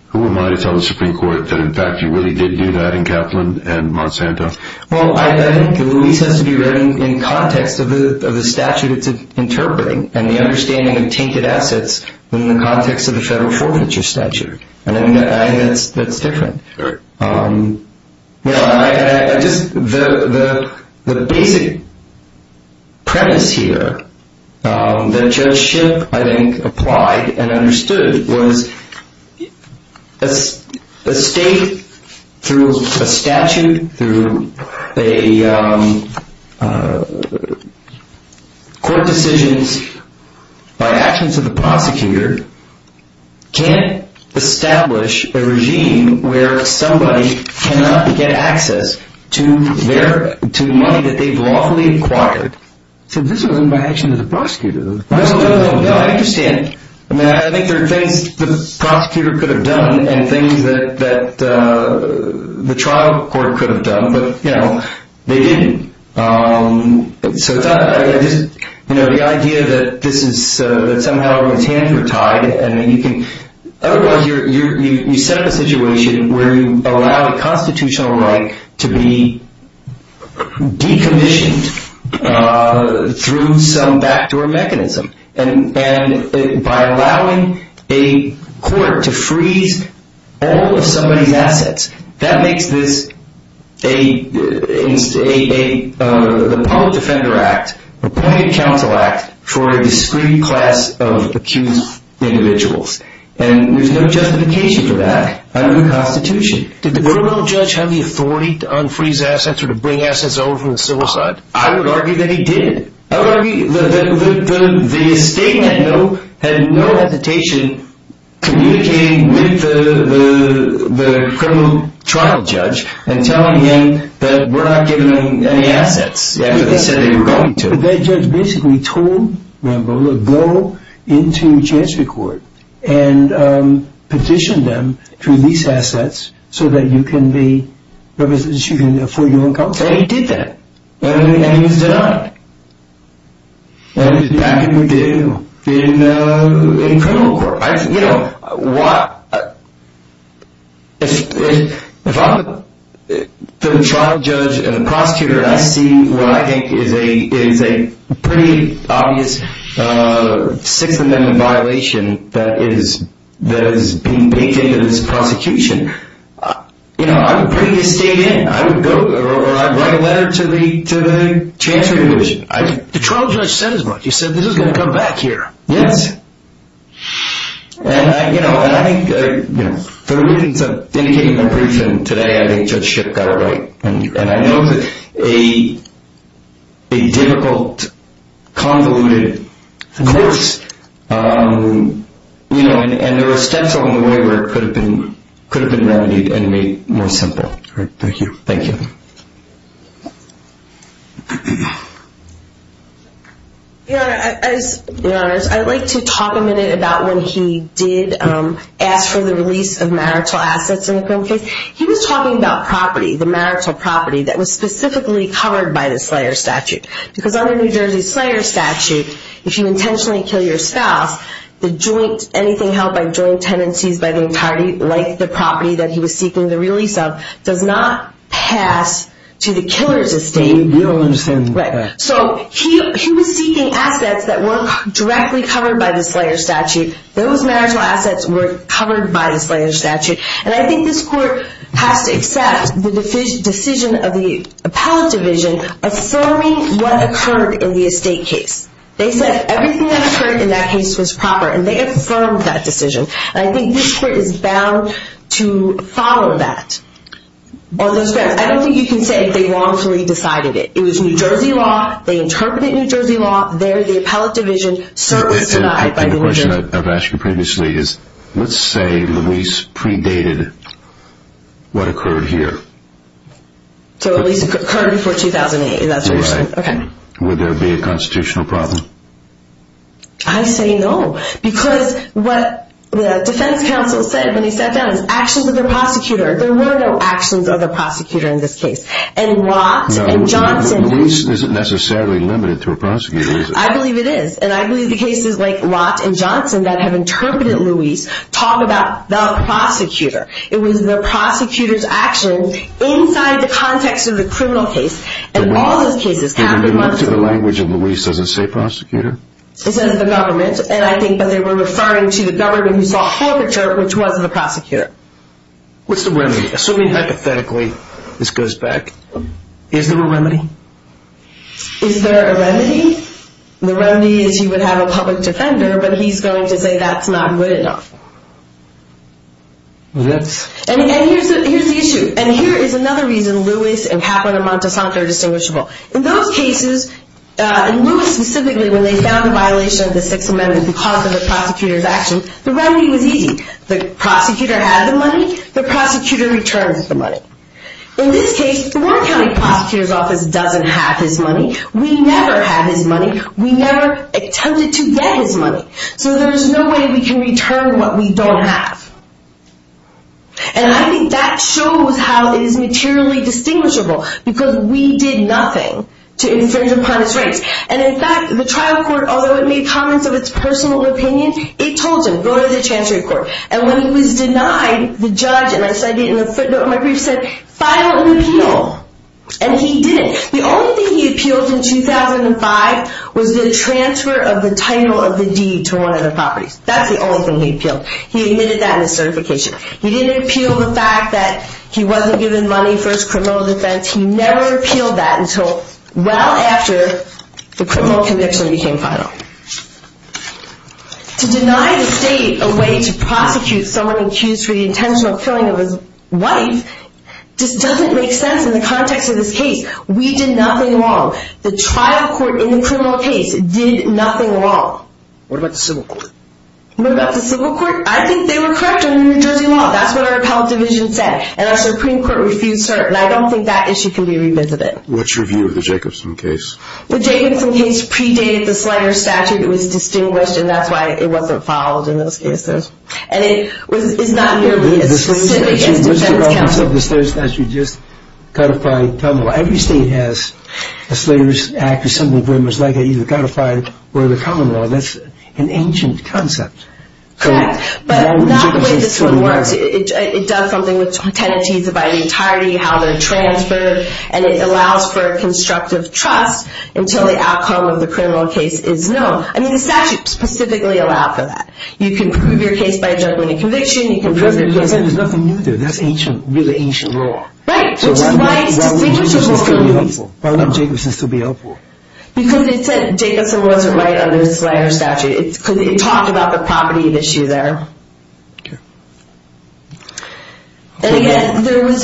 who am I to tell the Supreme Court that, in fact, you really did do that in Kaplan and Monsanto? Well, I think Luis has to be written in context of the statute it's interpreting and the understanding of tainted assets in the context of the federal forfeiture statute. I think that's different. Sure. The basic premise here that Judge Shipp, I think, applied and understood was that a state, through a statute, through court decisions, by actions of the prosecutor, can't establish a regime where somebody cannot get access to money that they've lawfully acquired. So this was done by actions of the prosecutor. No, no, no, I understand. I mean, I think there are things the prosecutor could have done and things that the trial court could have done, but, you know, they didn't. So the idea that somehow his hands were tied, I mean, otherwise you set up a situation where you allow a constitutional right to be decommissioned through some backdoor mechanism. And by allowing a court to freeze all of somebody's assets, that makes this a public defender act, appointed counsel act, for a discrete class of accused individuals. And there's no justification for that under the Constitution. Did the criminal judge have the authority to unfreeze assets or to bring assets over from the civil side? I would argue that he did. I would argue that the state had no hesitation communicating with the criminal trial judge and telling him that we're not giving them any assets after they said they were going to. But that judge basically told Rambo to go into chancery court and petition them to release assets so that you can afford your own counsel. And he did that. And he was denied. And it was back in the day in criminal court. You know, if I'm the trial judge and the prosecutor and I see what I think is a pretty obvious Sixth Amendment violation that is being baked into this prosecution, you know, I would bring the state in. I would go or I'd write a letter to the chancery division. The trial judge said as much. He said this is going to come back here. Yes. And, you know, for the reasons I've indicated in my briefing today, I think Judge Shipp got it right. And I know that a difficult, convoluted course, you know, and there were steps along the way where it could have been remedied and made more simple. All right. Thank you. Thank you. Your Honor, I'd like to talk a minute about when he did ask for the release of marital assets in the criminal case. He was talking about property, the marital property, that was specifically covered by the Slayer Statute. Because under New Jersey's Slayer Statute, if you intentionally kill your spouse, the joint, anything held by joint tenancies by the entirety, like the property that he was seeking the release of, does not pass to the killer's estate. You don't understand that. Right. So he was seeking assets that weren't directly covered by the Slayer Statute. Those marital assets were covered by the Slayer Statute. And I think this court has to accept the decision of the appellate division affirming what occurred in the estate case. They said everything that occurred in that case was proper, and they affirmed that decision. And I think this court is bound to follow that. I don't think you can say they wrongfully decided it. It was New Jersey law. They interpreted New Jersey law. They're the appellate division. And the question I've asked you previously is, let's say Luis predated what occurred here. So Luis occurred before 2008. Right. Okay. Would there be a constitutional problem? I say no. Because what the defense counsel said when he sat down is actions of the prosecutor. There were no actions of the prosecutor in this case. And Lott and Johnson. Luis isn't necessarily limited to a prosecutor, is he? I believe it is. And I believe the cases like Lott and Johnson that have interpreted Luis talk about the prosecutor. It was the prosecutor's actions inside the context of the criminal case. And all those cases have been brought to the language of Luis doesn't say prosecutor. It says the government. And I think that they were referring to the government who saw the whole picture, which was the prosecutor. What's the remedy? Assuming, hypothetically, this goes back, is there a remedy? Is there a remedy? The remedy is he would have a public defender, but he's going to say that's not good enough. And here's the issue. And here is another reason Luis and Kaplan and Montesanto are distinguishable. In those cases, in Luis specifically, when they found a violation of the Sixth Amendment because of the prosecutor's actions, the remedy was easy. The prosecutor had the money. The prosecutor returns the money. In this case, the Warren County Prosecutor's Office doesn't have his money. We never have his money. We never attempted to get his money. So there's no way we can return what we don't have. And I think that shows how it is materially distinguishable because we did nothing to infringe upon his rights. And, in fact, the trial court, although it made comments of its personal opinion, it told him, go to the Chancery Court. And when he was denied, the judge, and I said it in a footnote in my brief, said, file an appeal. And he didn't. The only thing he appealed in 2005 was the transfer of the title of the deed to one of the properties. That's the only thing he appealed. He admitted that in his certification. He didn't appeal the fact that he wasn't given money for his criminal defense. He never appealed that until well after the criminal conviction became final. To deny the state a way to prosecute someone accused for the intentional killing of his wife just doesn't make sense in the context of this case. We did nothing wrong. The trial court in the criminal case did nothing wrong. What about the civil court? What about the civil court? I think they were correct under New Jersey law. That's what our appellate division said. And our Supreme Court refused to serve. And I don't think that issue can be revisited. What's your view of the Jacobson case? The Jacobson case predated the Slater statute. It was distinguished, and that's why it wasn't filed in those cases. And it is not nearly as specific as defense counsel. What's the relevance of the Slater statute? Just codify common law. Every state has a Slater Act or something very much like it, either codified or the common law. That's an ancient concept. Correct. But not the way this one works. It does something with tenancies of identity, how they're transferred, and it allows for constructive trust until the outcome of the criminal case is known. I mean, the statute specifically allowed for that. You can prove your case by a judgment and conviction. You can prove your case. There's nothing new there. That's ancient, really ancient law. Right, which is why it's distinguishable from these. Why wouldn't Jacobson still be helpful? Because it said Jacobson wasn't right under the Slater statute. It talked about the property issue there. Okay. And, again, there was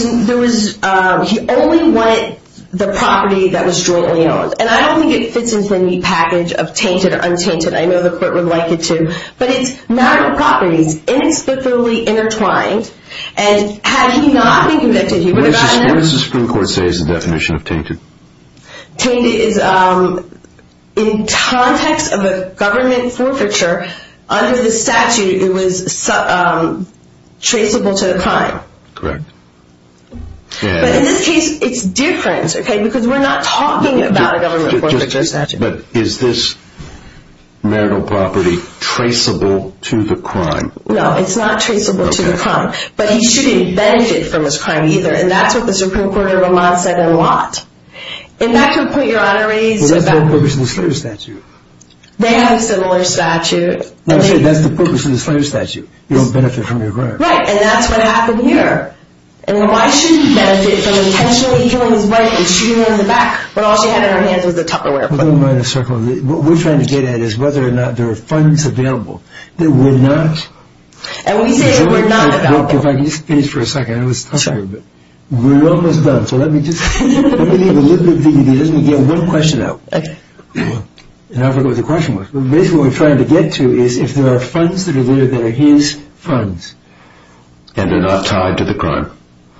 he only wanted the property that was jointly owned. And I don't think it fits into any package of tainted or untainted. I know the court would like it to. But it's marital properties inexplicably intertwined. And had he not been convicted, he would have gotten it. What does the Supreme Court say is the definition of tainted? Tainted is in context of a government forfeiture. Under the statute, it was traceable to the crime. Correct. But in this case, it's different, okay, because we're not talking about a government forfeiture statute. But is this marital property traceable to the crime? No, it's not traceable to the crime. But he shouldn't benefit from this crime either. And that's what the Supreme Court of Vermont said a lot. And that could put your honorees in a bad position. Well, that's the purpose of the Slater statute. They have a similar statute. No, I'm saying that's the purpose of the Slater statute. You don't benefit from your crime. Right, and that's what happened here. And why shouldn't he benefit from intentionally killing his wife and shooting her in the back when all she had in her hands was a Tupperware? Well, don't go in a circle. What we're trying to get at is whether or not there are funds available that were not. And we say were not available. If I could just finish for a second. I know it's tough here, but we're almost done. So let me just leave a little bit of dignity. Let me get one question out. And I forgot what the question was. But basically what we're trying to get to is if there are funds that are there that are his funds. And they're not tied to the crime.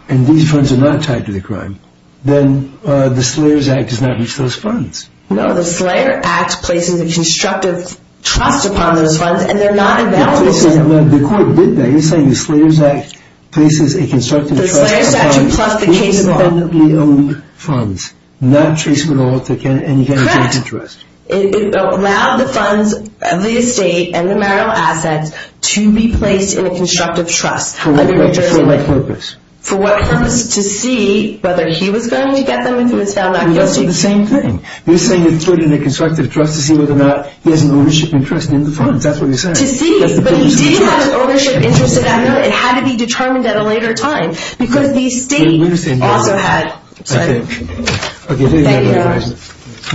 And these funds are not tied to the crime. Then the Slater Act does not reach those funds. No, the Slater Act places a constructive trust upon those funds, and they're not available to him. The court did that. You're saying the Slater Act places a constructive trust upon independently owned funds, not traceable to any kind of vested interest. Correct. It allowed the funds, the estate, and the marital assets to be placed in a constructive trust. For what purpose? For what purpose? To see whether he was going to get them if he was found not guilty. Well, that's the same thing. You're saying it's put in a constructive trust to see whether or not he has an ownership and trust in the funds. That's what you're saying. To see. But he did have an ownership interest in that. It had to be determined at a later time. Because the estate also had... Okay. Thank you.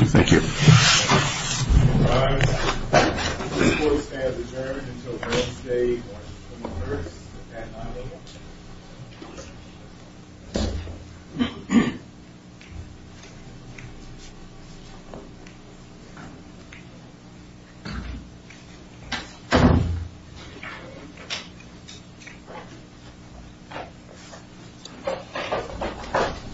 Thank you. This court stands adjourned until Wednesday, March 23rd at 9 a.m.